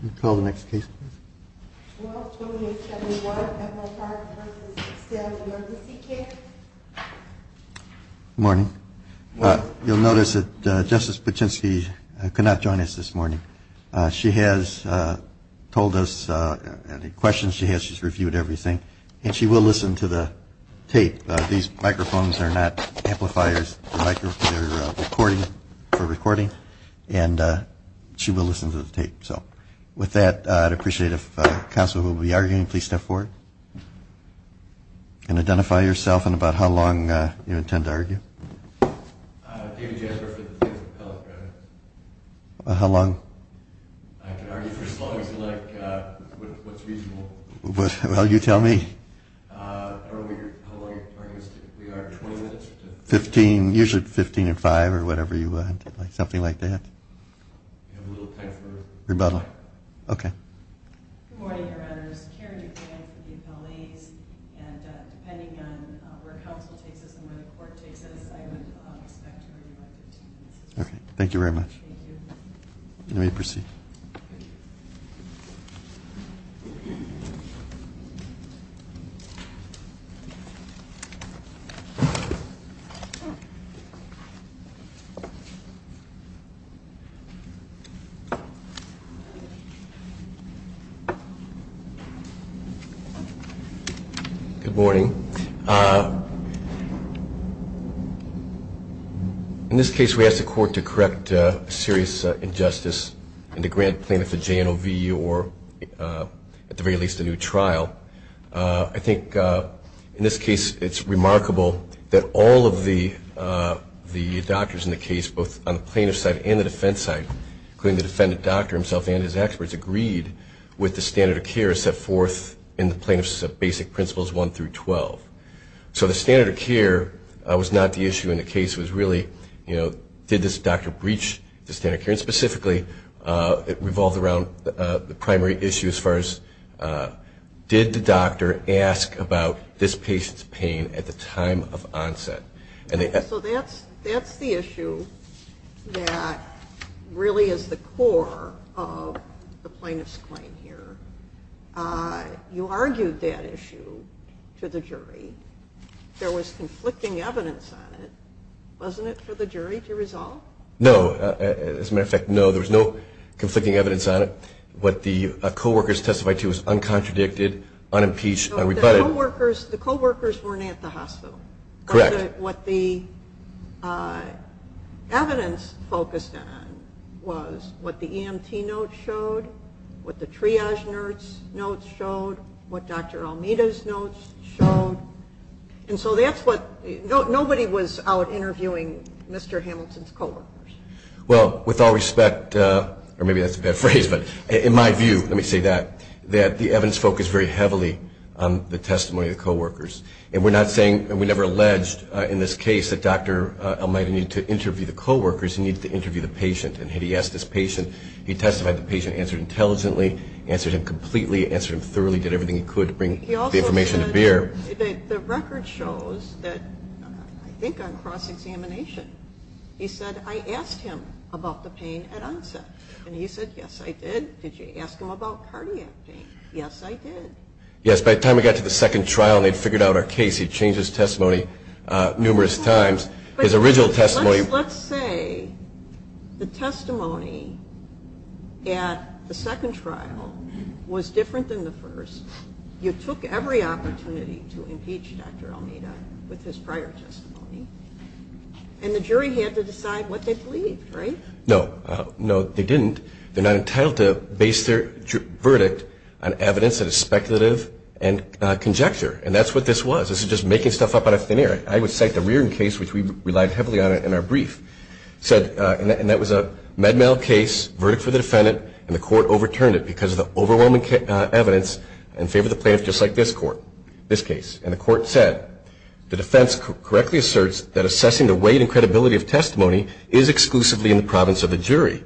Good morning. You'll notice that Justice Patrzynski could not join us this morning. She has told us the questions she has, she's reviewed everything, and she will listen to the tape. These microphones are not amplifiers, they're recording, for recording, and she will listen to the tape. So, with that, I'd appreciate it if counsel who will be arguing, please step forward and identify yourself and about how long you intend to argue. I'm David Jasper for the Plaintiff Appellate Court. How long? I can argue for as long as I like, what's reasonable. Well, you tell me. I don't know how long you're trying to argue. We are 20 minutes or so. 15, usually 15 and 5 or whatever you want, something like that. We have a little time for rebuttal. Rebuttal. Okay. Good morning, Your Honor. There's a hearing to be declared for the appellees, and depending on where counsel takes us and where the court takes us, I would expect to argue by 15 minutes. Okay. Thank you very much. Thank you. Let me proceed. Thank you. Thank you. Good morning. In this case, we ask the court to correct a serious injustice in the grant plaintiff, the JNOV, or at the very least a new trial. I think in this case it's remarkable that all of the doctors in the case, both on the plaintiff's side and the defense side, including the defendant doctor himself and his experts, agreed with the standard of care set forth in the plaintiff's basic principles 1 through 12. So the standard of care was not the issue in the case. It was really, you know, did this doctor breach the standard of care? And specifically, it revolved around the primary issue as far as did the doctor ask about this patient's pain at the time of onset? So that's the issue that really is the core of the plaintiff's claim here. You argued that issue to the jury. There was conflicting evidence on it. Wasn't it for the jury to resolve? No. As a matter of fact, no. There was no conflicting evidence on it. What the co-workers testified to was uncontradicted, unimpeached, unrebutted. The co-workers weren't at the hospital. Correct. What the evidence focused on was what the EMT notes showed, what the triage notes showed, what Dr. Almeida's notes showed. And so nobody was out interviewing Mr. Hamilton's co-workers. Well, with all respect, or maybe that's a bad phrase, but in my view, let me say that, that the evidence focused very heavily on the testimony of the co-workers. And we never alleged in this case that Dr. Almeida needed to interview the co-workers, he needed to interview the patient. And had he asked this patient, he testified the patient answered intelligently, answered him completely, answered him thoroughly, did everything he could to bring the information to bear. The record shows that, I think on cross-examination, he said, I asked him about the pain at onset. And he said, yes, I did. Did you ask him about cardiac pain? Yes, I did. Yes, by the time we got to the second trial and they'd figured out our case, he'd changed his testimony numerous times. His original testimony. Let's say the testimony at the second trial was different than the first. You took every opportunity to impeach Dr. Almeida with his prior testimony, and the jury had to decide what they believed, right? No, no, they didn't. They're not entitled to base their verdict on evidence that is speculative and conjecture. And that's what this was. This is just making stuff up out of thin air. I would cite the Reardon case, which we relied heavily on in our brief, and that was a med-mal case, verdict for the defendant, and the court overturned it because of the overwhelming evidence in favor of the plaintiff, just like this court, this case. And the court said, the defense correctly asserts that assessing the weight and credibility of testimony is exclusively in the province of the jury.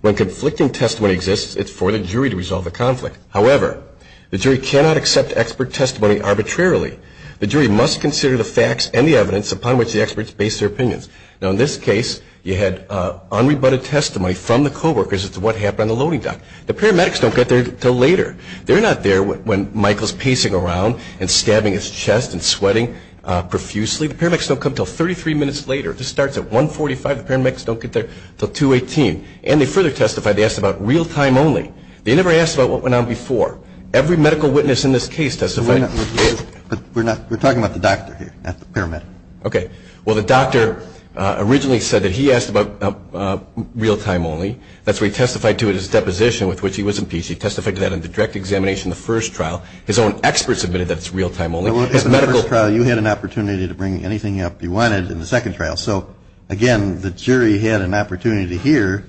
When conflicting testimony exists, it's for the jury to resolve the conflict. However, the jury cannot accept expert testimony arbitrarily. The jury must consider the facts and the evidence upon which the experts base their opinions. Now, in this case, you had unrebutted testimony from the co-workers as to what happened on the loading dock. The paramedics don't get there until later. They're not there when Michael's pacing around and stabbing his chest and sweating profusely. The paramedics don't come until 33 minutes later. This starts at 145. The paramedics don't get there until 218. And they further testify. They ask about real-time only. They never asked about what went on before. Every medical witness in this case testified. We're talking about the doctor here, not the paramedic. Okay. Well, the doctor originally said that he asked about real-time only. That's why he testified to it as a deposition with which he was impeached. He testified to that in the direct examination in the first trial. His own experts admitted that it's real-time only. In the first trial, you had an opportunity to bring anything up you wanted in the second trial. So, again, the jury had an opportunity to hear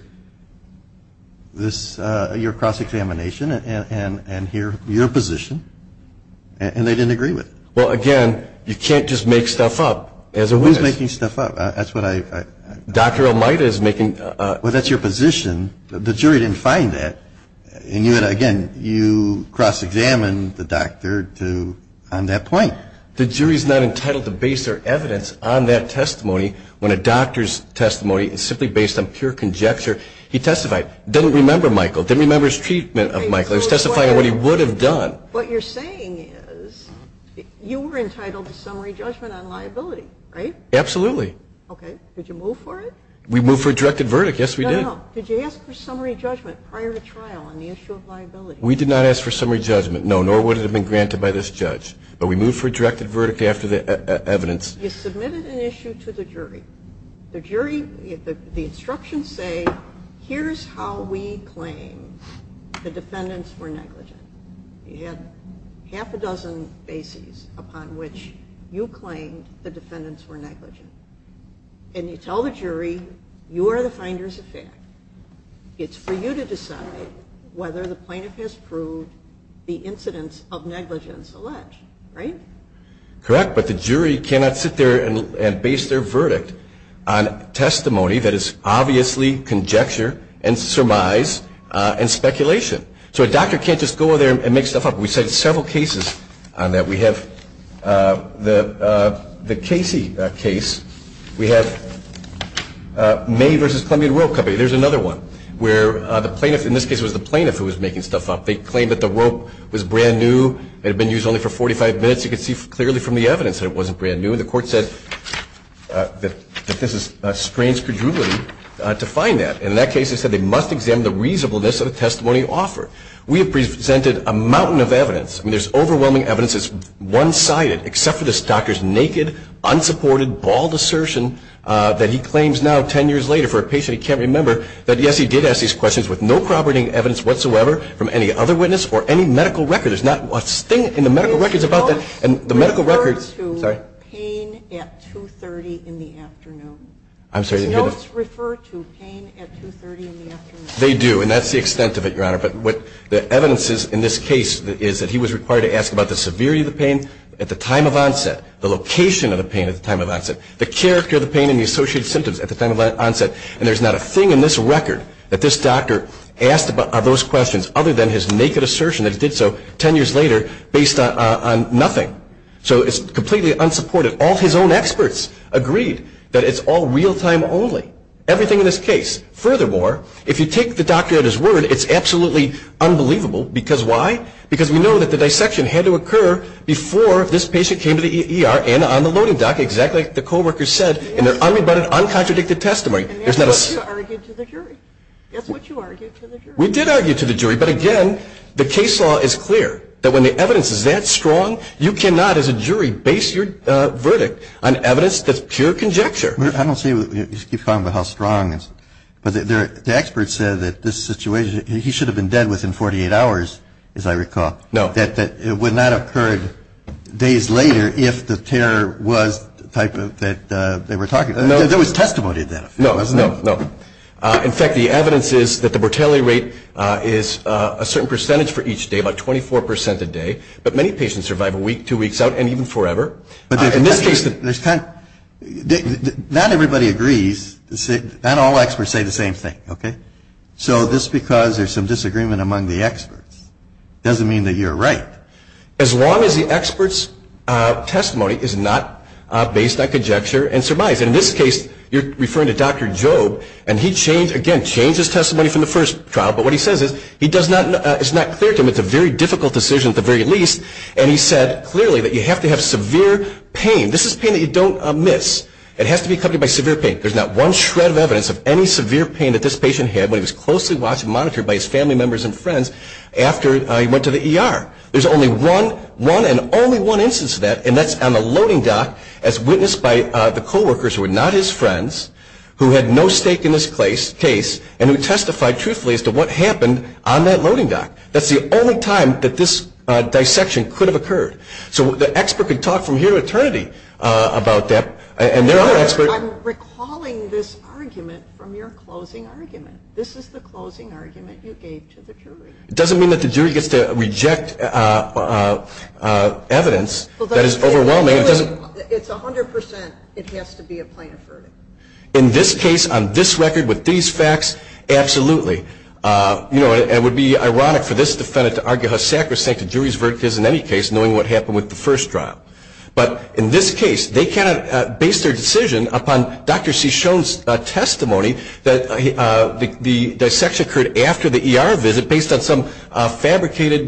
your cross-examination and hear your position, and they didn't agree with it. Well, again, you can't just make stuff up as a witness. Who's making stuff up? That's what I – Dr. Elmita is making – Well, that's your position. The jury didn't find that. And, again, you cross-examined the doctor on that point. The jury is not entitled to base their evidence on that testimony when a doctor's testimony is simply based on pure conjecture. He testified. Didn't remember Michael. Didn't remember his treatment of Michael. He was testifying on what he would have done. What you're saying is you were entitled to summary judgment on liability, right? Absolutely. Okay. Did you move for it? We moved for a directed verdict. Yes, we did. No, no. Did you ask for summary judgment prior to trial on the issue of liability? We did not ask for summary judgment, no, nor would it have been granted by this judge. But we moved for a directed verdict after the evidence. You submitted an issue to the jury. The jury – the instructions say, here's how we claim the defendants were negligent. You had half a dozen bases upon which you claimed the defendants were negligent. And you tell the jury, you are the finders of fact. It's for you to decide whether the plaintiff has proved the incidence of negligence alleged, right? Correct, but the jury cannot sit there and base their verdict on testimony that is obviously conjecture and surmise and speculation. So a doctor can't just go there and make stuff up. We cited several cases on that. We have the Casey case. We have May v. Columbia Rope Company. There's another one where the plaintiff – in this case, it was the plaintiff who was making stuff up. They claimed that the rope was brand new. It had been used only for 45 minutes. You could see clearly from the evidence that it wasn't brand new. And the court said that this is strange credulity to find that. And in that case, they said they must examine the reasonableness of the testimony offered. We have presented a mountain of evidence. I mean, there's overwhelming evidence that's one-sided, except for this doctor's naked, unsupported, bald assertion that he claims now 10 years later for a patient he can't remember that, yes, he did ask these questions with no corroborating evidence whatsoever from any other witness or any medical record. There's not a thing in the medical records about that. Refer to pain at 2.30 in the afternoon. I'm sorry? Notes refer to pain at 2.30 in the afternoon. They do, and that's the extent of it, Your Honor. But what the evidence is in this case is that he was required to ask about the severity of the pain at the time of onset, the location of the pain at the time of onset, the character of the pain and the associated symptoms at the time of onset. And there's not a thing in this record that this doctor asked about those questions other than his naked assertion that he did so 10 years later based on nothing. So it's completely unsupported. All his own experts agreed that it's all real-time only, everything in this case. Furthermore, if you take the doctor at his word, it's absolutely unbelievable. Because why? Because we know that the dissection had to occur before this patient came to the ER and on the loading dock, exactly like the co-workers said in their unrebutted, uncontradicted testimony. And that's what you argued to the jury. That's what you argued to the jury. We did argue to the jury. But again, the case law is clear that when the evidence is that strong, you cannot as a jury base your verdict on evidence that's pure conjecture. I don't see you keep talking about how strong. But the experts said that this situation, he should have been dead within 48 hours, as I recall. No. That it would not have occurred days later if the terror was the type that they were talking about. No. There was testimony of that. No, no, no. In fact, the evidence is that the mortality rate is a certain percentage for each day, about 24% a day. But many patients survive a week, two weeks out, and even forever. In this case, not everybody agrees. Not all experts say the same thing, okay? So just because there's some disagreement among the experts doesn't mean that you're right. As long as the expert's testimony is not based on conjecture and surmise. In this case, you're referring to Dr. Job. And he changed, again, changed his testimony from the first trial. But what he says is it's not clear to him. It's a very difficult decision at the very least. And he said clearly that you have to have severe pain. This is pain that you don't miss. It has to be accompanied by severe pain. There's not one shred of evidence of any severe pain that this patient had when he was closely watched and monitored by his family members and friends after he went to the ER. There's only one and only one instance of that, and that's on the loading dock as witnessed by the co-workers who were not his friends, who had no stake in this case, and who testified truthfully as to what happened on that loading dock. That's the only time that this dissection could have occurred. So the expert could talk from here to eternity about that. And there are experts. I'm recalling this argument from your closing argument. This is the closing argument you gave to the jury. It doesn't mean that the jury gets to reject evidence. That is overwhelming. It's 100%. It has to be a plaintiff's verdict. In this case, on this record, with these facts, absolutely. It would be ironic for this defendant to argue how sacrosanct a jury's verdict is in any case, knowing what happened with the first trial. But in this case, they cannot base their decision upon Dr. Cishon's testimony that the dissection occurred after the ER visit based on some fabricated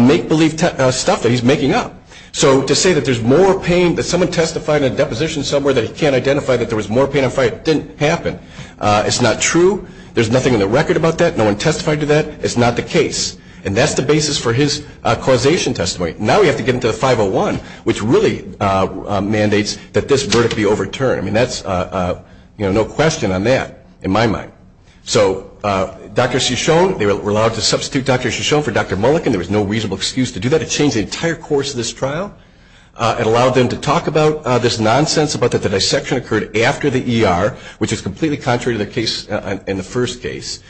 make-believe stuff that he's making up. So to say that there's more pain, that someone testified in a deposition somewhere that he can't identify, that there was more pain on fire, didn't happen. It's not true. There's nothing on the record about that. No one testified to that. It's not the case. And that's the basis for his causation testimony. Now we have to get into the 501, which really mandates that this verdict be overturned. I mean, no question on that, in my mind. So Dr. Cishon, they were allowed to substitute Dr. Cishon for Dr. Mulliken. There was no reasonable excuse to do that. It changed the entire course of this trial. It allowed them to talk about this nonsense about that the dissection occurred after the ER, which is completely contrary to the case in the first case.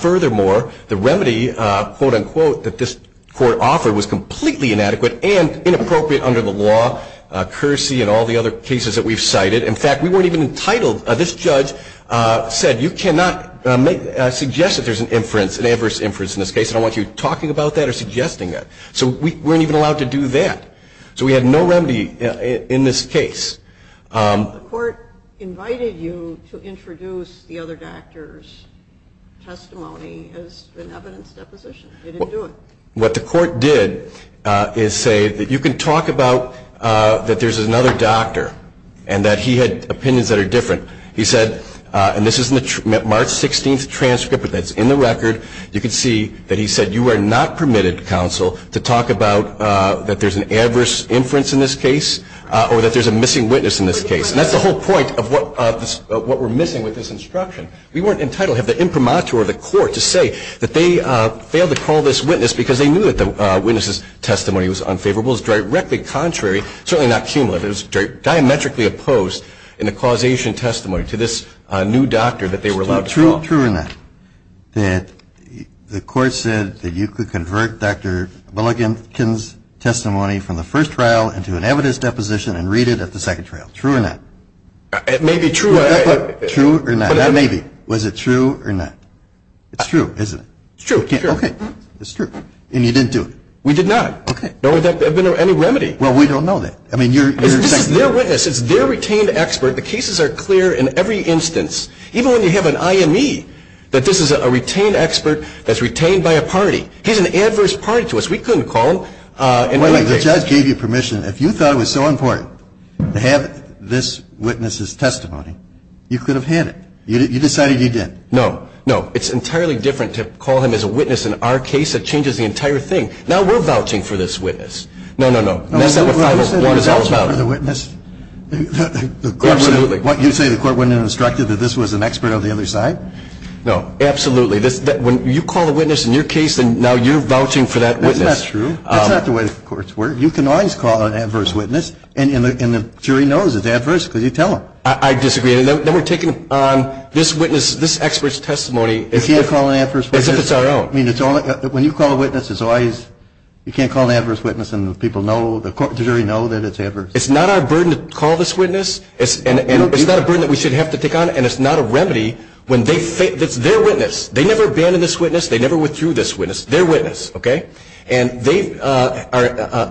Furthermore, the remedy, quote, unquote, that this court offered was completely inadequate and inappropriate under the law, cursey and all the other cases that we've cited. In fact, we weren't even entitled. This judge said you cannot suggest that there's an inference, an adverse inference in this case, and I don't want you talking about that or suggesting that. So we weren't even allowed to do that. So we had no remedy in this case. The court invited you to introduce the other doctor's testimony as an evidence deposition. It didn't do it. What the court did is say that you can talk about that there's another doctor and that he had opinions that are different. He said, and this is in the March 16th transcript that's in the record, you can see that he said you are not permitted, counsel, to talk about that there's an adverse inference in this case or that there's a missing witness in this case. And that's the whole point of what we're missing with this instruction. We weren't entitled. We don't have the imprimatur of the court to say that they failed to call this witness because they knew that the witness's testimony was unfavorable. It was directly contrary, certainly not cumulative. It was diametrically opposed in the causation testimony to this new doctor that they were allowed to call. True or not that the court said that you could convert Dr. Bullikin's testimony from the first trial into an evidence deposition and read it at the second trial? True or not? It may be true. True or not? Maybe. Was it true or not? It's true, isn't it? It's true. Okay. It's true. And you didn't do it? We did not. Okay. There would have been no remedy. Well, we don't know that. This is their witness. It's their retained expert. The cases are clear in every instance, even when you have an IME, that this is a retained expert that's retained by a party. He's an adverse party to us. We couldn't call him. The judge gave you permission. If you thought it was so important to have this witness's testimony, you could have had it. You decided you didn't. No. No. It's entirely different to call him as a witness in our case. It changes the entire thing. Now we're vouching for this witness. No, no, no. That's not what 501 is all about. You said the court wouldn't have instructed that this was an expert on the other side? No. Absolutely. When you call the witness in your case and now you're vouching for that witness. Isn't that true? That's not the way the courts work. You can always call an adverse witness, and the jury knows it's adverse because you tell them. I disagree. Then we're taking on this witness, this expert's testimony. You can't call an adverse witness. As if it's our own. I mean, when you call a witness, it's always you can't call an adverse witness and the people know, the jury know that it's adverse. It's not our burden to call this witness, and it's not a burden that we should have to take on, and it's not a remedy when they think it's their witness. They never abandoned this witness. They never withdrew this witness. Their witness, okay? And they are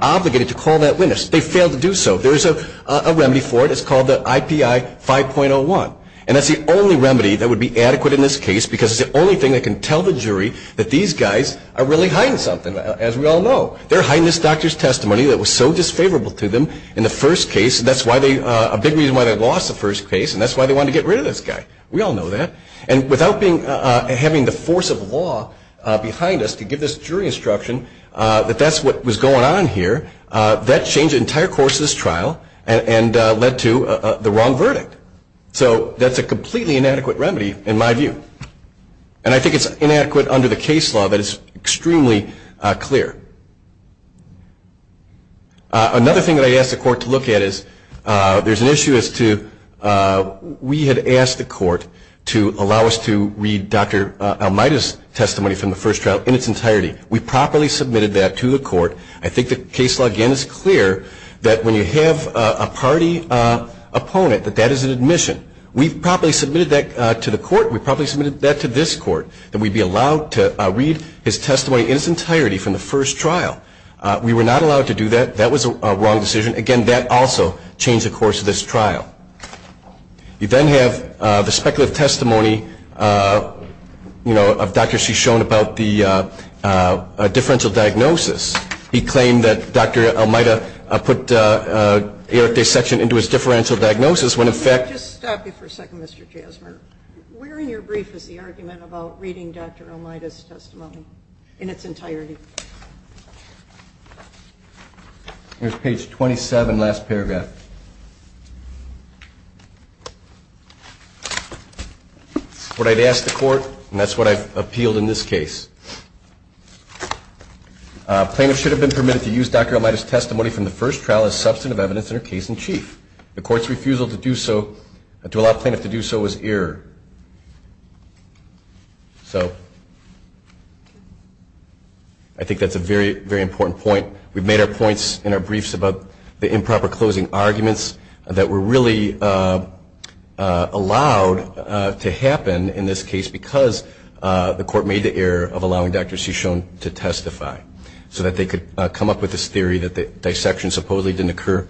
obligated to call that witness. They failed to do so. There is a remedy for it. It's called the IPI 5.01, and that's the only remedy that would be adequate in this case because it's the only thing that can tell the jury that these guys are really hiding something, as we all know. They're hiding this doctor's testimony that was so disfavorable to them in the first case, and that's a big reason why they lost the first case, and that's why they wanted to get rid of this guy. We all know that. And without having the force of law behind us to give this jury instruction that that's what was going on here, that changed the entire course of this trial and led to the wrong verdict. So that's a completely inadequate remedy in my view, and I think it's inadequate under the case law that is extremely clear. Another thing that I asked the court to look at is there's an issue as to we had asked the court to allow us to read Dr. Almeida's testimony from the first trial in its entirety. We properly submitted that to the court. I think the case law, again, is clear that when you have a party opponent that that is an admission. We've properly submitted that to the court, and we've properly submitted that to this court, that we'd be allowed to read his testimony in its entirety from the first trial. We were not allowed to do that. That was a wrong decision. Again, that also changed the course of this trial. You then have the speculative testimony, you know, of Dr. Shishon about the differential diagnosis. He claimed that Dr. Almeida put Eric's section into his differential diagnosis when, in fact- Could I just stop you for a second, Mr. Jasmer? Where in your brief is the argument about reading Dr. Almeida's testimony in its entirety? Here's page 27, last paragraph. What I'd asked the court, and that's what I've appealed in this case, plaintiff should have been permitted to use Dr. Almeida's testimony from the first trial as substantive evidence in her case in chief. The court's refusal to allow plaintiff to do so was error. So I think that's a very, very important point. We've made our points in our briefs about the improper closing arguments that were really allowed to happen in this case because the court made the error of allowing Dr. Shishon to testify so that they could come up with this theory that the dissection supposedly didn't occur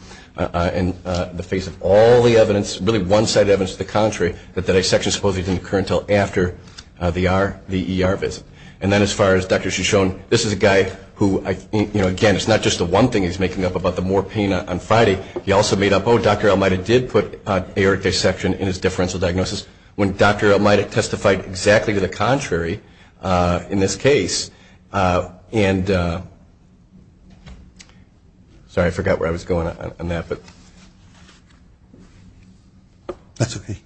in the face of all the evidence, really one-sided evidence to the contrary, that the dissection supposedly didn't occur until after the ER visit. And then as far as Dr. Shishon, this is a guy who, you know, again, it's not just the one thing he's making up about the more pain on Friday. He also made up, oh, Dr. Almeida did put Eric's section in his differential diagnosis when Dr. Almeida testified exactly to the contrary in this case. And sorry, I forgot where I was going on that. That's okay.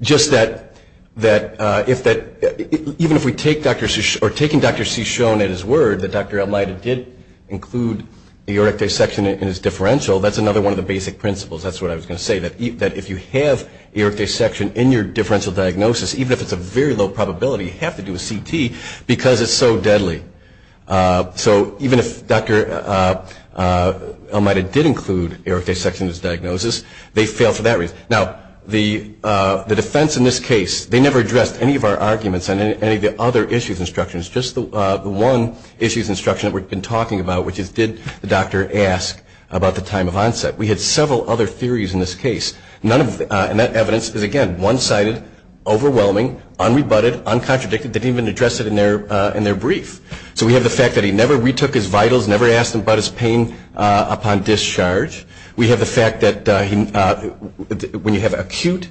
Just that even if we take Dr. Shishon or taking Dr. Shishon at his word that Dr. Almeida did include the Eric dissection in his differential, that's another one of the basic principles. That's what I was going to say, that if you have Eric dissection in your differential diagnosis, even if it's a very low probability, you have to do a CT because it's so deadly. So even if Dr. Almeida did include Eric dissection in his diagnosis, they failed for that reason. Now, the defense in this case, they never addressed any of our arguments on any of the other issues instructions. Just the one issues instruction that we've been talking about, which is did the doctor ask about the time of onset. We had several other theories in this case. And that evidence is, again, one-sided, overwhelming, unrebutted, uncontradicted. They didn't even address it in their brief. So we have the fact that he never retook his vitals, never asked about his pain upon discharge. We have the fact that when you have acute,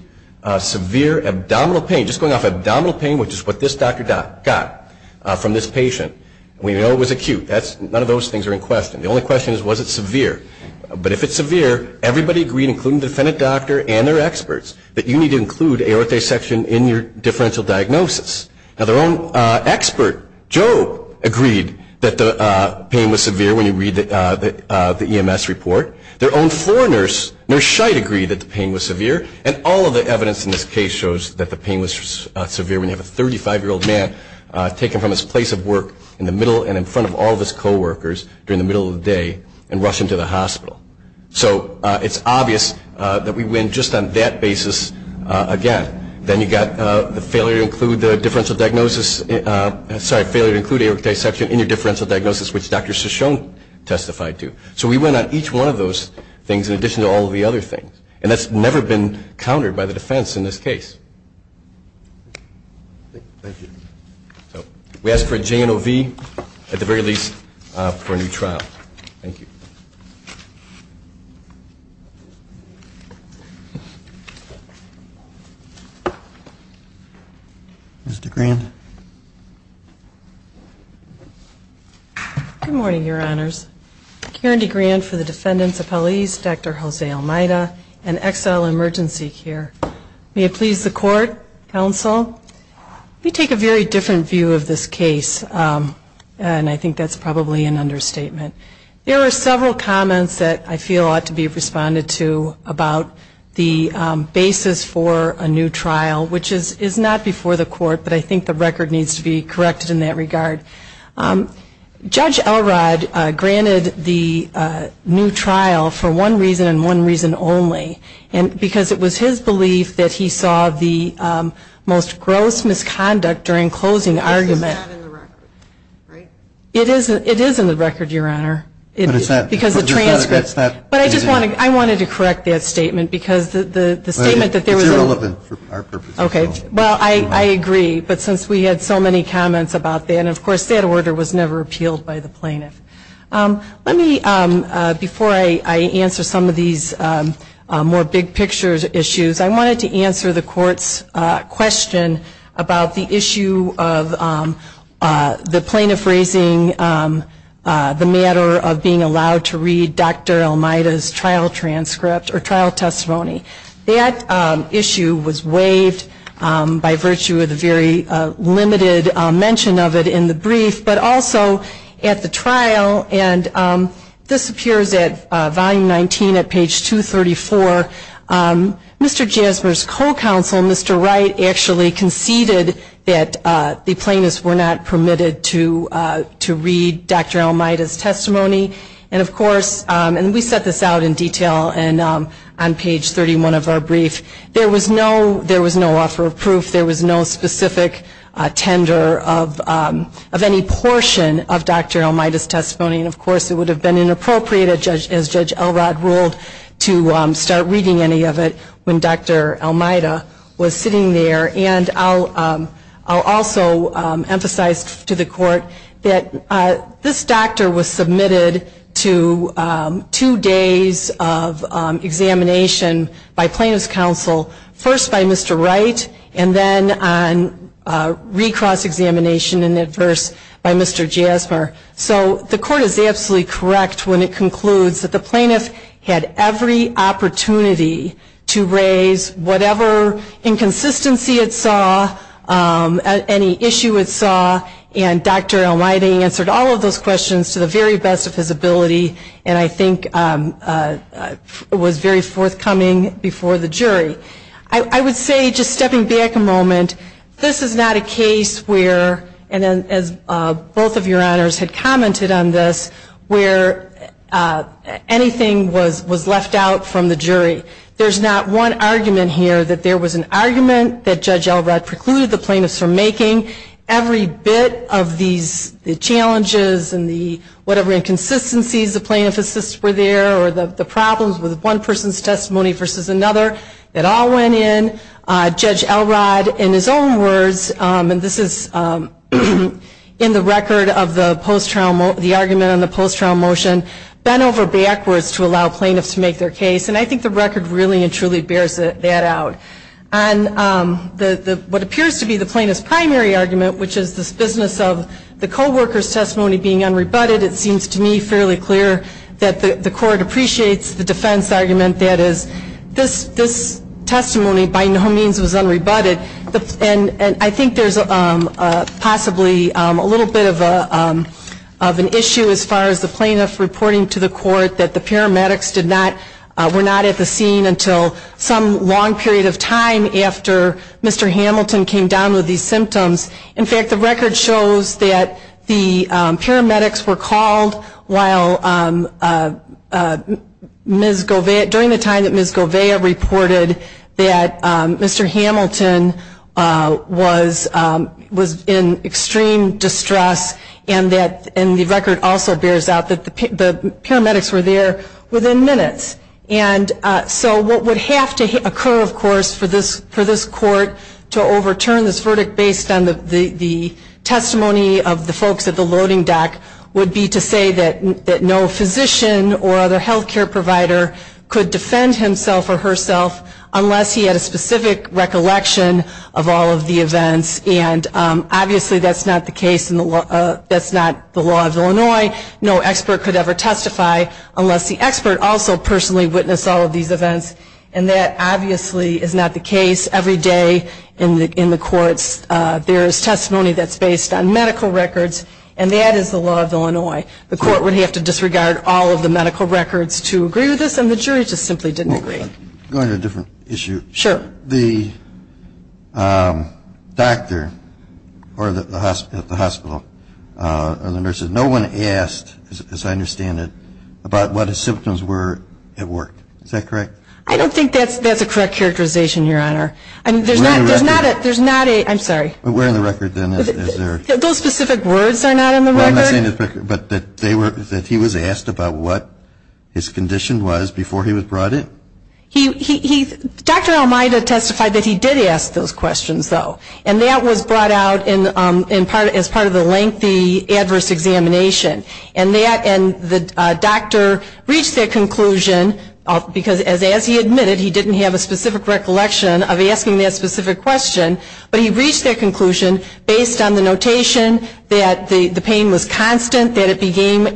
severe abdominal pain, just going off abdominal pain, which is what this doctor got from this patient, we know it was acute. None of those things are in question. The only question is was it severe. But if it's severe, everybody agreed, including the defendant doctor and their experts, that you need to include aortic dissection in your differential diagnosis. Now, their own expert, Joe, agreed that the pain was severe when you read the EMS report. Their own floor nurse, Nurse Scheidt, agreed that the pain was severe. And all of the evidence in this case shows that the pain was severe when you have a 35-year-old man taken from his place of work in the middle and in front of all of his co-workers during the middle of the day and rushed him to the hospital. So it's obvious that we win just on that basis again. Then you've got the failure to include aortic dissection in your differential diagnosis, which Dr. Shoshone testified to. So we win on each one of those things in addition to all of the other things. And that's never been countered by the defense in this case. Thank you. So we ask for a J&OV, at the very least, for a new trial. Thank you. Ms. DeGrande. Good morning, Your Honors. Karen DeGrande for the defendants' appellees, Dr. Jose Almeida and XL Emergency Care. May it please the Court, Counsel. Let me take a very different view of this case, and I think that's probably an understatement. There are several comments that I feel ought to be responded to about the basis for a new trial, which is not before the Court, but I think the record needs to be corrected in that regard. Judge Elrod granted the new trial for one reason and one reason only, because it was his belief that he saw the most gross misconduct during closing argument. This is not in the record, right? It is in the record, Your Honor, because the transcripts. But I just wanted to correct that statement, because the statement that there was a- It's irrelevant for our purposes. Okay. Well, I agree, but since we had so many comments about that, and, of course, that order was never appealed by the plaintiff. Let me, before I answer some of these more big picture issues, I wanted to answer the Court's question about the issue of the plaintiff raising the matter of being allowed to read Dr. Almeida's trial transcript or trial testimony. That issue was waived by virtue of the very limited mention of it in the brief, but also at the trial, and this appears at Volume 19 at page 234. Mr. Jasmer's co-counsel, Mr. Wright, actually conceded that the plaintiffs were not permitted to read Dr. Almeida's testimony. And, of course, and we set this out in detail on page 31 of our brief, there was no offer of proof. There was no specific tender of any portion of Dr. Almeida's testimony. And, of course, it would have been inappropriate, as Judge Elrod ruled, to start reading any of it when Dr. Almeida was sitting there. And I'll also emphasize to the Court that this doctor was submitted to two days of examination by plaintiff's counsel, first by Mr. Wright and then on recross examination in adverse by Mr. Jasmer. So the Court is absolutely correct when it concludes that the plaintiff had every opportunity to raise whatever inconsistency it saw, any issue it saw, and Dr. Almeida answered all of those questions to the very best of his ability and I think was very forthcoming before the jury. I would say, just stepping back a moment, this is not a case where, and as both of your honors had commented on this, where anything was left out from the jury. There's not one argument here that there was an argument that Judge Elrod precluded the plaintiffs from making. Every bit of these challenges and the whatever inconsistencies the plaintiff assists were there or the problems with one person's testimony versus another, that all went in. Judge Elrod, in his own words, and this is in the record of the argument on the post-trial motion, bent over backwards to allow plaintiffs to make their case. And I think the record really and truly bears that out. On what appears to be the plaintiff's primary argument, which is this business of the co-worker's testimony being unrebutted, it seems to me fairly clear that the Court appreciates the defense argument that is, this testimony by no means was unrebutted. And I think there's possibly a little bit of an issue as far as the plaintiff reporting to the Court that the paramedics did not, were not at the scene until some long period of time after Mr. Hamilton came down with these symptoms. In fact, the record shows that the paramedics were called while Ms. Gouveia, during the time that Ms. Gouveia reported that Mr. Hamilton was in extreme distress and the record also bears out that the paramedics were there within minutes. And so what would have to occur, of course, for this Court to overturn this verdict based on the testimony of the folks at the loading dock would be to say that no physician or other health care provider could defend himself or herself unless he had a specific recollection of all of the events. And obviously that's not the case in the law, that's not the law of Illinois. No expert could ever testify unless the expert also personally witnessed all of these events. And that obviously is not the case every day in the courts. There is testimony that's based on medical records, and that is the law of Illinois. The Court would have to disregard all of the medical records to agree with this, and the jury just simply didn't agree. I'm going to a different issue. Sure. The doctor at the hospital or the nurses, no one asked, as I understand it, about what his symptoms were at work. Is that correct? I don't think that's a correct characterization, Your Honor. There's not a, I'm sorry. But where in the record, then, is there? Those specific words are not in the record. But that he was asked about what his condition was before he was brought in? Dr. Almeida testified that he did ask those questions, though. And that was brought out as part of the lengthy adverse examination. And the doctor reached that conclusion, because as he admitted, he didn't have a specific recollection of asking that specific question. But he reached that conclusion based on the notation that the pain was constant, that it began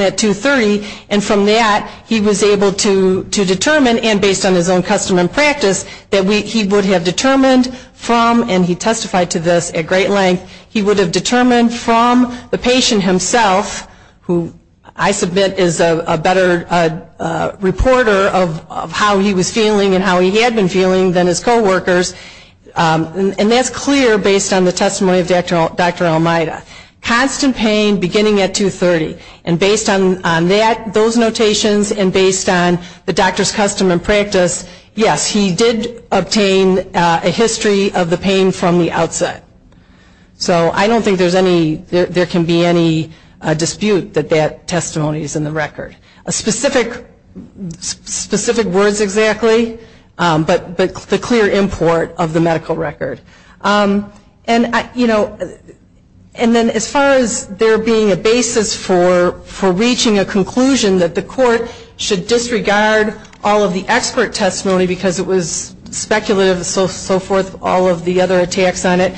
at 230. And from that, he was able to determine, and based on his own custom and practice, that he would have determined from, and he testified to this at great length, he would have determined from the patient himself, who I submit is a better reporter of how he was feeling and how he had been feeling than his coworkers. And that's clear based on the testimony of Dr. Almeida. Constant pain beginning at 230. And based on that, those notations, and based on the doctor's custom and practice, yes, he did obtain a history of the pain from the outset. So I don't think there's any, there can be any dispute that that testimony is in the record. Specific words exactly, but the clear import of the medical record. And then as far as there being a basis for reaching a conclusion that the court should disregard all of the expert testimony, because it was speculative and so forth, all of the other attacks on it,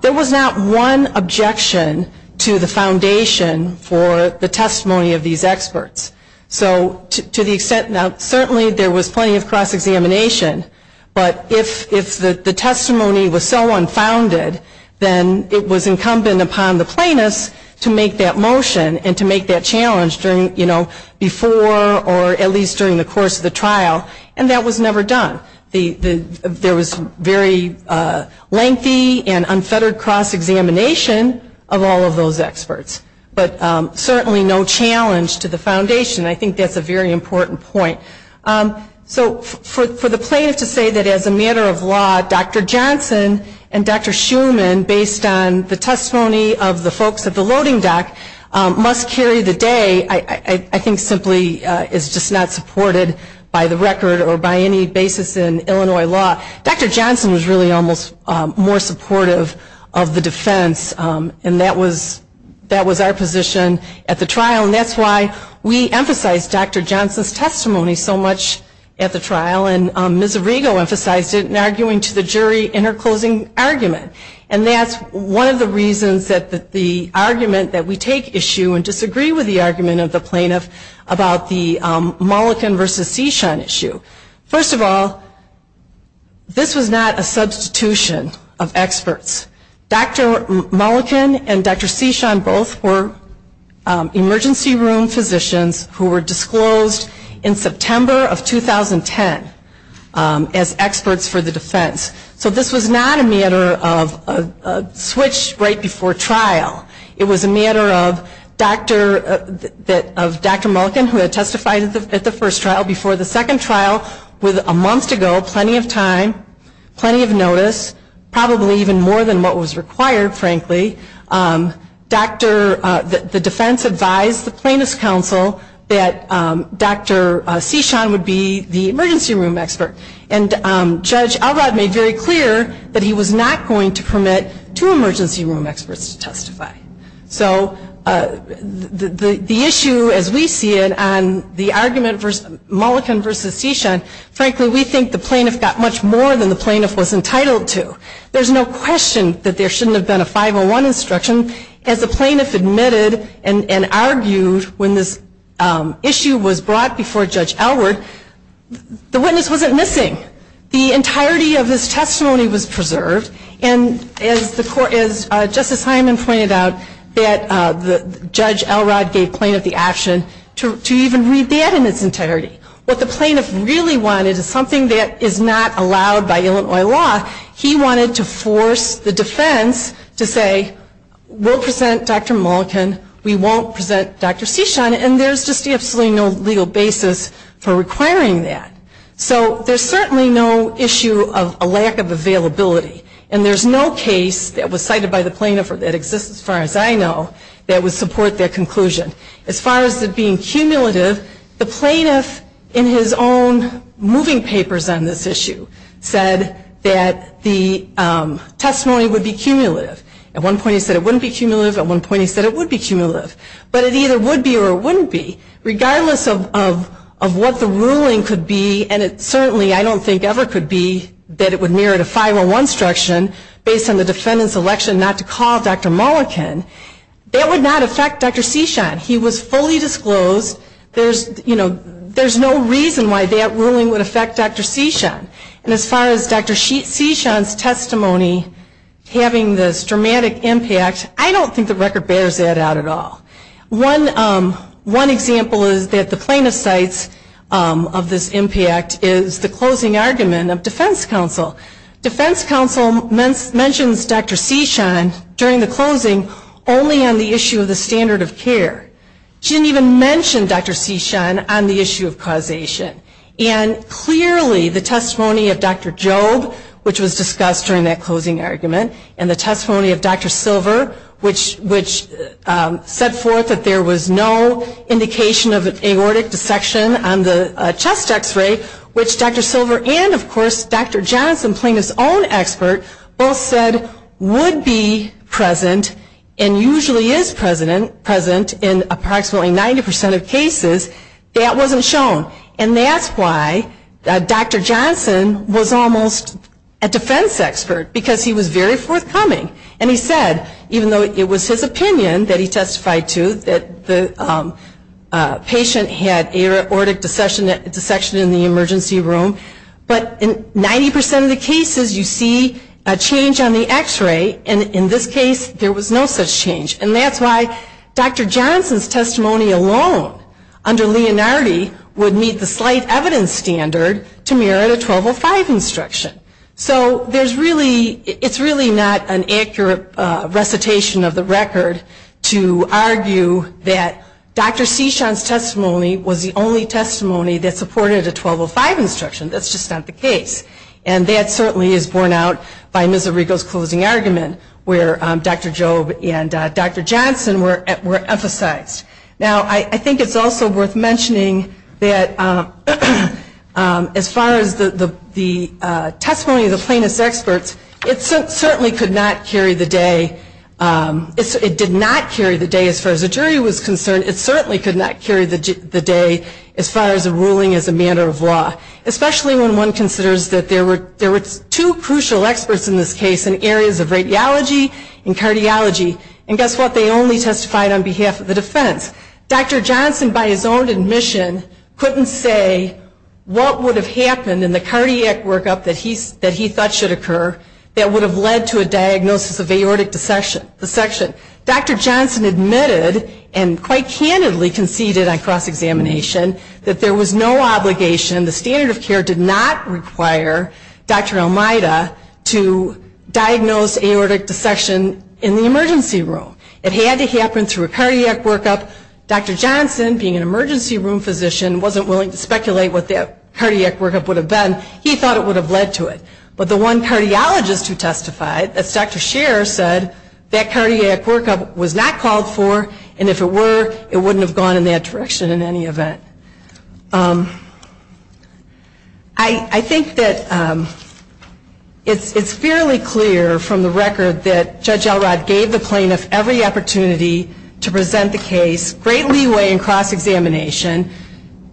there was not one objection to the foundation for the testimony of these experts. So to the extent, now certainly there was plenty of cross-examination, but if the testimony was so unfounded, then it was incumbent upon the plaintiffs to make that motion and to make that challenge during, you know, before or at least during the course of the trial, and that was never done. There was very lengthy and unfettered cross-examination of all of those experts. But certainly no challenge to the foundation. I think that's a very important point. So for the plaintiff to say that as a matter of law, Dr. Johnson and Dr. Schuman, based on the testimony of the folks at the loading dock, must carry the day, I think simply is just not supported by the record or by any basis in Illinois law. Dr. Johnson was really almost more supportive of the defense, and that was our position at the trial, and that's why we emphasized Dr. Johnson's testimony so much at the trial, and Ms. Arrigo emphasized it in arguing to the jury in her closing argument. And that's one of the reasons that the argument that we take issue and disagree with the argument of the plaintiff about the Mullikin v. Sechon issue. First of all, this was not a substitution of experts. Dr. Mullikin and Dr. Sechon both were emergency room physicians who were disclosed in September of 2010 as experts for the defense. So this was not a matter of a switch right before trial. It was a matter of Dr. Mullikin, who had testified at the first trial, before the second trial, with a month to go, plenty of time, plenty of notice, probably even more than what was required, frankly. The defense advised the plaintiff's counsel that Dr. Sechon would be the emergency room expert, and Judge Elrod made very clear that he was not going to permit two emergency room experts to testify. So the issue, as we see it, on the argument Mullikin v. Sechon, frankly, we think the plaintiff got much more than the plaintiff was entitled to. There's no question that there shouldn't have been a 501 instruction. As the plaintiff admitted and argued when this issue was brought before Judge Elrod, the witness wasn't missing. The entirety of his testimony was preserved, and as Justice Hyman pointed out, that Judge Elrod gave plaintiff the option to even read that in its entirety. What the plaintiff really wanted is something that is not allowed by Illinois law. He wanted to force the defense to say, we'll present Dr. Mullikin, we won't present Dr. Sechon, and there's just absolutely no legal basis for requiring that. So there's certainly no issue of a lack of availability, and there's no case that was cited by the plaintiff that exists as far as I know that would support that conclusion. As far as it being cumulative, the plaintiff in his own moving papers on this issue said that the testimony would be cumulative. At one point he said it wouldn't be cumulative, at one point he said it would be cumulative. But it either would be or wouldn't be, regardless of what the ruling could be, and it certainly I don't think ever could be that it would merit a 501 instruction based on the defendant's election not to call Dr. Mullikin. That would not affect Dr. Sechon. He was fully disclosed. There's no reason why that ruling would affect Dr. Sechon. And as far as Dr. Sechon's testimony having this dramatic impact, I don't think the record bears that out at all. One example is that the plaintiff cites of this impact is the closing argument of defense counsel. Defense counsel mentions Dr. Sechon during the closing only on the issue of the standard of care. She didn't even mention Dr. Sechon on the issue of causation. And clearly the testimony of Dr. Jobe, which was discussed during that closing argument, and the testimony of Dr. Silver, which set forth that there was no indication of an aortic dissection on the chest X-ray, which Dr. Silver and, of course, Dr. Johnson, plaintiff's own expert, both said would be present and usually is present in approximately 90% of cases, that wasn't shown. And that's why Dr. Johnson was almost a defense expert, because he was very forthcoming. And he said, even though it was his opinion that he testified to that the patient had aortic dissection in the emergency room, but in 90% of the cases you see a change on the X-ray. And in this case there was no such change. And that's why Dr. Johnson's testimony alone under Leonardi would meet the slight evidence standard to merit a 1205 instruction. So there's really, it's really not an accurate recitation of the record to argue that Dr. Sechon's testimony was the only testimony that supported a 1205 instruction. That's just not the case. And that certainly is borne out by Ms. Arrigo's closing argument, where Dr. Jobe and Dr. Johnson were emphasized. Now, I think it's also worth mentioning that as far as the testimony of the plaintiff's experts, it certainly could not carry the day, it did not carry the day as far as the jury was concerned, it certainly could not carry the day as far as a ruling as a matter of law. Especially when one considers that there were two crucial experts in this case in areas of radiology and cardiology. And guess what, they only testified on behalf of the defense. Dr. Johnson, by his own admission, couldn't say what would have happened in the cardiac workup that he thought should occur that would have led to a diagnosis of aortic dissection. Dr. Johnson admitted, and quite candidly conceded on cross-examination, that there was no obligation, the standard of care did not exist. It did not require Dr. Almeida to diagnose aortic dissection in the emergency room. It had to happen through a cardiac workup. Dr. Johnson, being an emergency room physician, wasn't willing to speculate what that cardiac workup would have been. He thought it would have led to it. But the one cardiologist who testified, that's Dr. Scherer, said that cardiac workup was not called for, and if it were, it wouldn't have gone in that direction in any event. I think that it's fairly clear from the record that Judge Elrod gave the plaintiff every opportunity to present the case. Great leeway in cross-examination.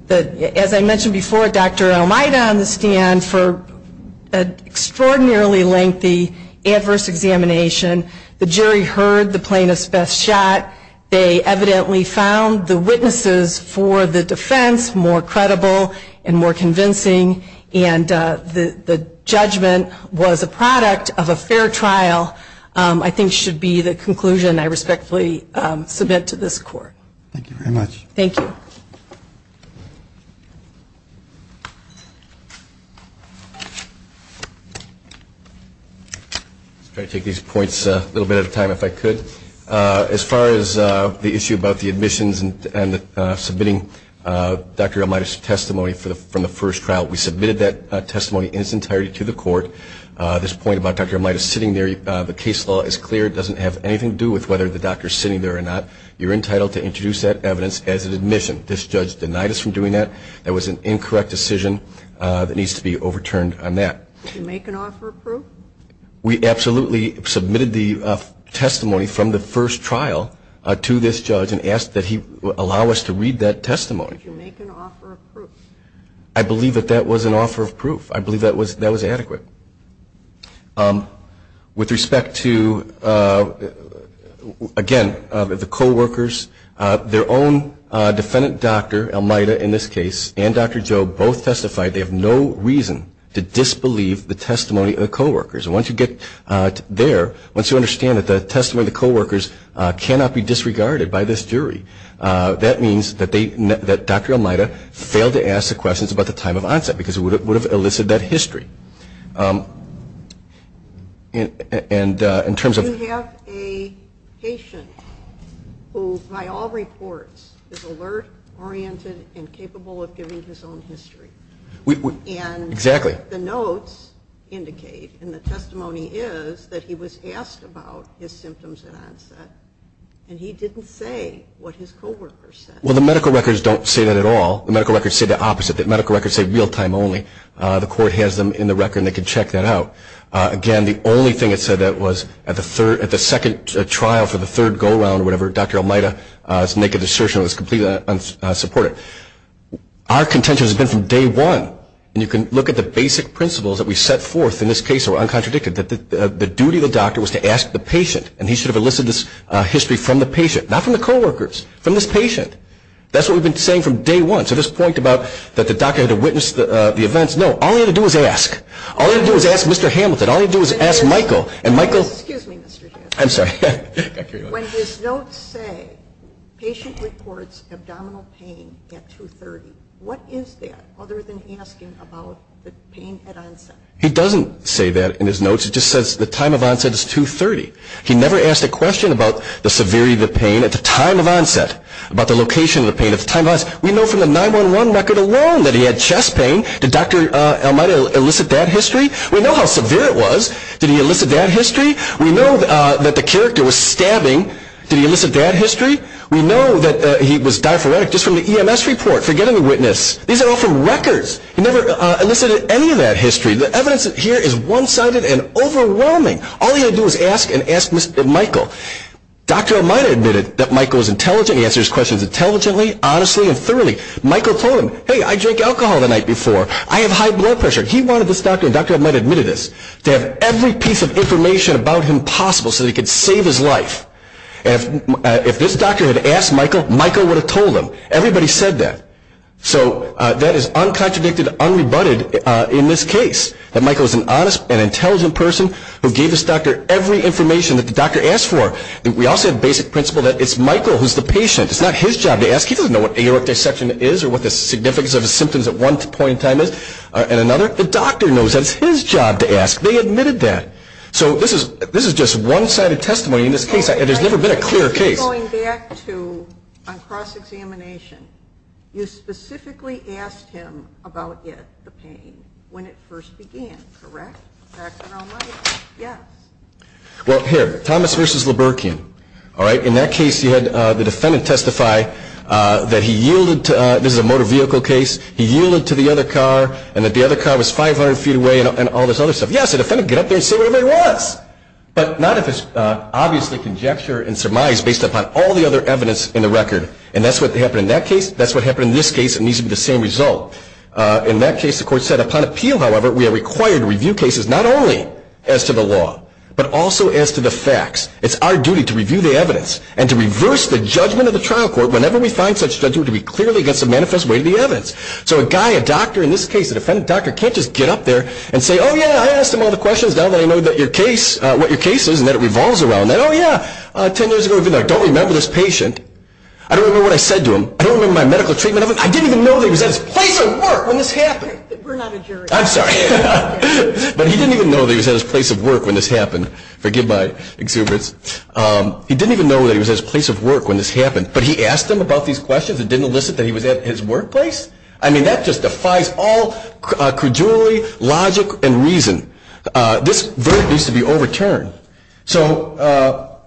As I mentioned before, Dr. Almeida on the stand for an extraordinarily lengthy adverse examination. The jury heard the plaintiff's best shot. They evidently found the witnesses for the defense more credible and more convincing. And the judgment was a product of a fair trial, I think should be the conclusion I respectfully submit to this court. Thank you very much. Thank you. I'll try to take these points a little bit at a time if I could. As far as the issue about the admissions and submitting Dr. Almeida's testimony from the first trial, we submitted that testimony in its entirety to the court. This point about Dr. Almeida sitting there, the case law is clear. It doesn't have anything to do with whether the doctor is sitting there or not. You're entitled to introduce that evidence as an admission. This judge denied us from doing that. That was an incorrect decision that needs to be overturned on that. Did you make an offer of proof? We absolutely submitted the testimony from the first trial to this judge and asked that he allow us to read that testimony. Did you make an offer of proof? I believe that that was an offer of proof. I believe that was adequate. With respect to, again, the coworkers, their own defendant doctor, Almeida in this case, and Dr. Joe both testified they have no reason to disbelieve that the testimony of the coworkers. Once you get there, once you understand that the testimony of the coworkers cannot be disregarded by this jury, that means that Dr. Almeida failed to ask the questions about the time of onset because it would have elicited that history. We have a patient who by all reports is alert, oriented, and capable of giving his own history. And the notes, the testimony, the notes indicate, and the testimony is that he was asked about his symptoms at onset. And he didn't say what his coworkers said. Well, the medical records don't say that at all. The medical records say the opposite. The medical records say real-time only. The court has them in the record and they can check that out. Again, the only thing it said that was at the second trial for the third go-round or whatever, Dr. Almeida's naked assertion was completely unsupported. Our contention has been from day one. And you can look at the basic principles that we stated in the first trial. The basic principles that were set forth in this case were uncontradicted, that the duty of the doctor was to ask the patient. And he should have elicited this history from the patient, not from the coworkers, from this patient. That's what we've been saying from day one. So this point about that the doctor had to witness the events, no. All he had to do was ask. All he had to do was ask Mr. Hamilton. All he had to do was ask Michael. Excuse me, Mr. James. I'm sorry. When his notes say patient reports abdominal pain at 2.30, what is that other than asking about the pain at onset? He doesn't say that in his notes. It just says the time of onset is 2.30. He never asked a question about the severity of the pain at the time of onset, about the location of the pain at the time of onset. We know from the 9-1-1 record alone that he had chest pain. Did Dr. Almeida elicit that history? We know how severe it was. Did he elicit that history? We know that the character was stabbing. Did he elicit that history? We know that he was diaphoretic just from the EMS report. Forget any witness. These are all from records. He never elicited any of that history. The evidence here is one-sided and overwhelming. All he had to do was ask and ask Mr. Michael. Dr. Almeida admitted that Michael was intelligent. He answered his questions intelligently, honestly, and thoroughly. Michael told him, hey, I drank alcohol the night before. I have high blood pressure. He wanted this doctor, and Dr. Almeida admitted this, to have every piece of information about him possible so that he could save his life. If this doctor had asked Michael, Michael would have told him. Everybody said that. So that is uncontradicted, unrebutted in this case, that Michael was an honest and intelligent person who gave this doctor every information that the doctor asked for. We also have basic principle that it's Michael who's the patient. It's not his job to ask. He doesn't know what aortic dissection is or what the significance of the symptoms at one point in time is and another. The doctor knows that it's his job to ask. They admitted that. So this is just one-sided testimony in this case. If you're going back to a cross-examination, you specifically asked him about it, the pain, when it first began, correct, Dr. Almeida? Yes. Well, here, Thomas v. Liberkian. In that case, you had the defendant testify that he yielded to, this is a motor vehicle case, he yielded to the other car and that the other car was 500 feet away and all this other stuff. And the court said, yes, the defendant can get up there and say whatever he wants. But not if it's obviously conjecture and surmise based upon all the other evidence in the record. And that's what happened in that case. That's what happened in this case. It needs to be the same result. In that case, the court said, upon appeal, however, we are required to review cases not only as to the law, but also as to the facts. It's our duty to review the evidence and to reverse the judgment of the trial court whenever we find such judgment to be clearly against the manifest weight of the evidence. So a guy, a doctor in this case, a defendant doctor, can't just get up there and say, oh, yeah, I asked him all the questions, now that I know what your case is and that it revolves around that. Oh, yeah, 10 years ago we've been there. I don't remember this patient. I don't remember what I said to him. I don't remember my medical treatment of him. I didn't even know that he was at his place of work when this happened. We're not a jury. I'm sorry. But he didn't even know that he was at his place of work when this happened. Forgive my exuberance. He didn't even know that he was at his place of work when this happened, but he asked him about these questions and didn't elicit that he was at his workplace? I mean, that just defies all credulity, logic, and reason. This verb needs to be overturned. So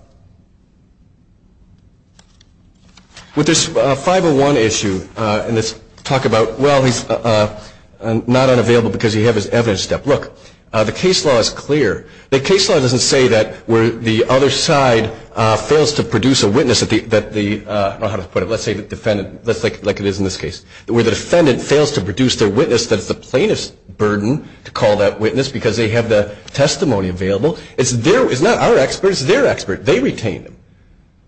with this 501 issue, and let's talk about, well, he's not unavailable because he had his evidence stepped. Look, the case law is clear. The case law doesn't say that where the other side fails to produce a witness that the, I don't know how to put it, let's say the defendant, like it is in this case, where the defendant fails to produce their witness that it's the plaintiff's burden to call that witness because they have the testimony available. It's not our expert. It's their expert. They retained him.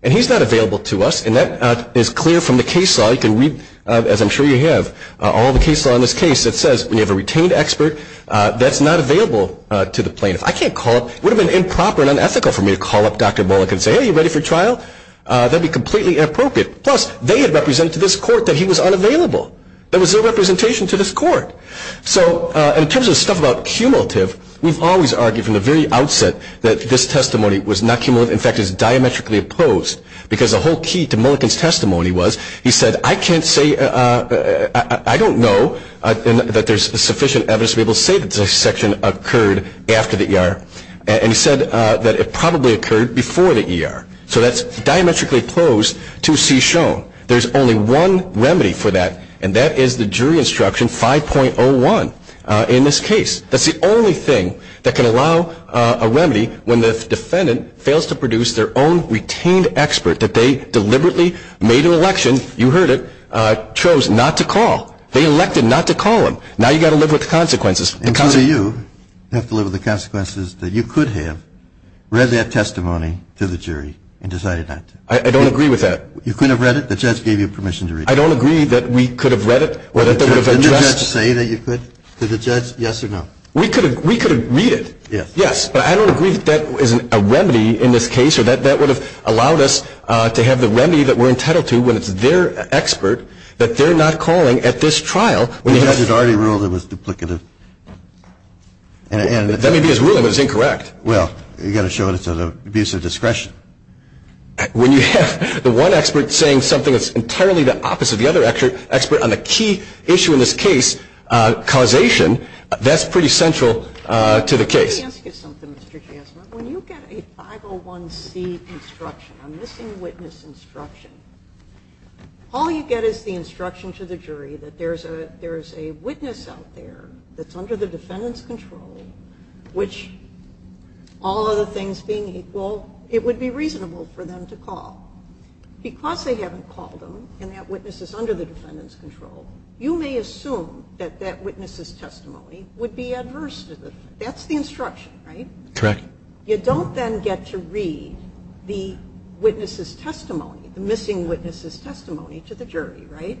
And he's not available to us, and that is clear from the case law. You can read, as I'm sure you have, all the case law in this case that says we have a retained expert that's not available to the plaintiff. I can't call up, it would have been improper and unethical for me to call up Dr. Mulliken and say, hey, are you ready for trial? That would be completely inappropriate. Plus, they had represented to this court that he was unavailable. That was their representation to this court. So in terms of stuff about cumulative, we've always argued from the very outset that this testimony was not cumulative. In fact, it's diametrically opposed because the whole key to Mulliken's testimony was he said, I can't say, I don't know that there's sufficient evidence to be able to say that this section occurred after the ER. And he said that it probably occurred before the ER. So that's diametrically opposed to see shown. There's only one remedy for that, and that is the jury instruction 5.01 in this case. That's the only thing that can allow a remedy when the defendant fails to produce their own retained expert that they deliberately made an election, you heard it, chose not to call. They elected not to call him. Now you've got to live with the consequences. And so you have to live with the consequences that you could have read that testimony to the jury and decided not to. I don't agree with that. You couldn't have read it? The judge gave you permission to read it? I don't agree that we could have read it or that they would have addressed it. Did the judge say that you could? Did the judge say yes or no? We could have read it, yes. But I don't agree that that is a remedy in this case or that that would have allowed us to have the remedy that we're entitled to when it's their expert that they're not calling at this trial. The judge had already ruled it was duplicative. That may be his ruling, but it's incorrect. Well, you've got to show it's an abuse of discretion. When you have the one expert saying something that's entirely the opposite of the other expert on the key issue in this case, causation, that's pretty central to the case. Let me ask you something, Mr. Jasner. When you get a 501c instruction, a missing witness instruction, all you get is the instruction to the jury that there's a witness out there that's under the defendant's control, which, all other things being equal, it would be reasonable for them to call. Because they haven't called them and that witness is under the defendant's control, you may assume that that witness's testimony would be adverse to the defendant. That's the instruction, right? Correct. You don't then get to read the witness's testimony, the missing witness's testimony to the jury, right?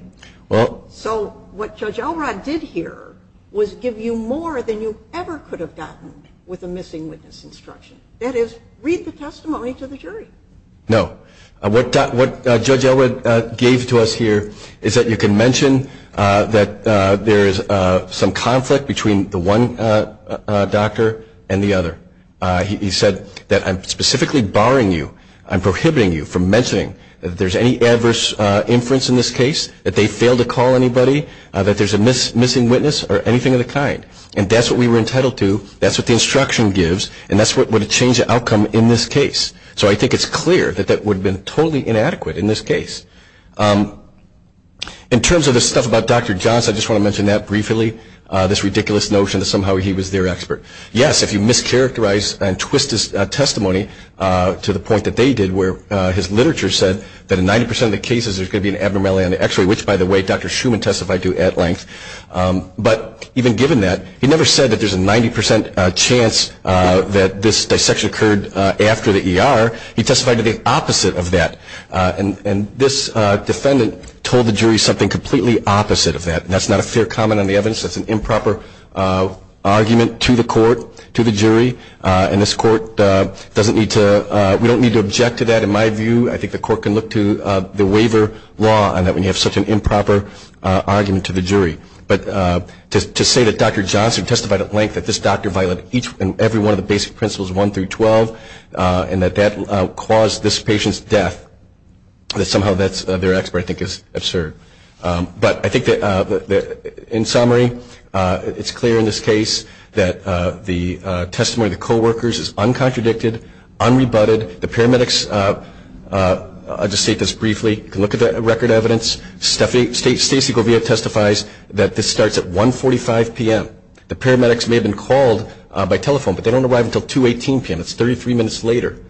Well... So what Judge Elrod did here was give you more than you ever could have gotten with a missing witness instruction. That is, read the testimony to the jury. No. What Judge Elrod gave to us here is that you can mention that there is some conflict between the one doctor and the other. He said that I'm specifically barring you, I'm prohibiting you from mentioning that there's any adverse inference in this case, that they failed to call anybody, that there's a missing witness or anything of the kind. And that's what we were entitled to, that's what the instruction gives, and that's what would have changed the outcome in this case. So I think it's clear that that would have been totally inadequate in this case. In terms of the stuff about Dr. Johnson, I just want to mention that briefly, this ridiculous notion that somehow he was their expert. Yes, if you mischaracterize and twist his testimony to the point that they did where his literature said that in 90 percent of the cases there's going to be an abnormality on the x-ray, which, by the way, Dr. Schuman testified to at length. But even given that, he never said that there's a 90 percent chance that this dissection occurred after the ER. He testified to the opposite of that, and this defendant told the jury something completely opposite of that, and that's not a fair comment on the evidence. That's an improper argument to the court, to the jury, and this court doesn't need to, we don't need to object to that. In my view, I think the court can look to the waiver law on that when you have such an improper argument to the jury. But to say that Dr. Johnson testified at length that this doctor violated every one of the basic principles 1 through 12, and that that caused this patient's death, that somehow that's their expert, I think is absurd. But I think that in summary, it's clear in this case that the testimony of the coworkers is uncontradicted, unrebutted. The paramedics, I'll just state this briefly, can look at the record evidence. Stacey Govia testifies that this starts at 1.45 p.m. The paramedics may have been called by telephone, but they don't arrive until 2.18 p.m., that's 33 minutes later.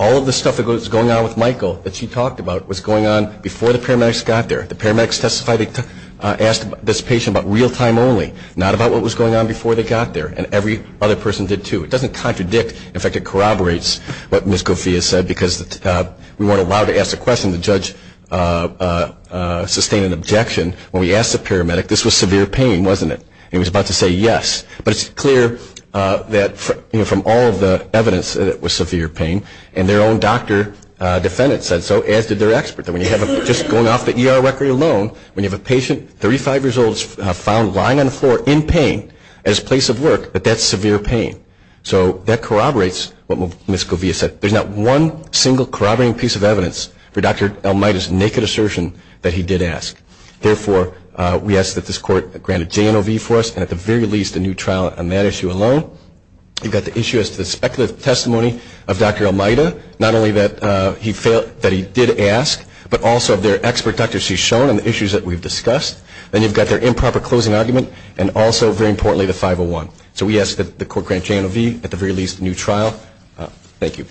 All of the stuff that was going on with Michael that she talked about was going on before the paramedics got there. The paramedics testified, they asked this patient about real-time only, not about what was going on before they got there. And every other person did, too. It doesn't contradict, in fact it corroborates what Ms. Govia said, because we weren't allowed to ask the question. The judge sustained an objection when we asked the paramedic, this was severe pain, wasn't it? And he was about to say yes. But it's clear that from all of the evidence that it was severe pain, and their own doctor defendant said so, as did their expert. Just going off the ER record alone, when you have a patient, 35 years old, found lying on the floor in pain at his place of work, that's severe pain. So that corroborates what Ms. Govia said. There's not one single corroborating piece of evidence for Dr. Elmaida's naked assertion that he did ask. Therefore, we ask that this Court grant a JNOV for us, and at the very least a new trial on that issue alone. You've got the issue as to the speculative testimony of Dr. Elmaida, not only that he did ask, but also of their expert doctor she's shown on the issues that we've discussed. Then you've got their improper closing argument, and also, very importantly, the 501. So we ask that the Court grant JNOV, at the very least, a new trial. Thank you.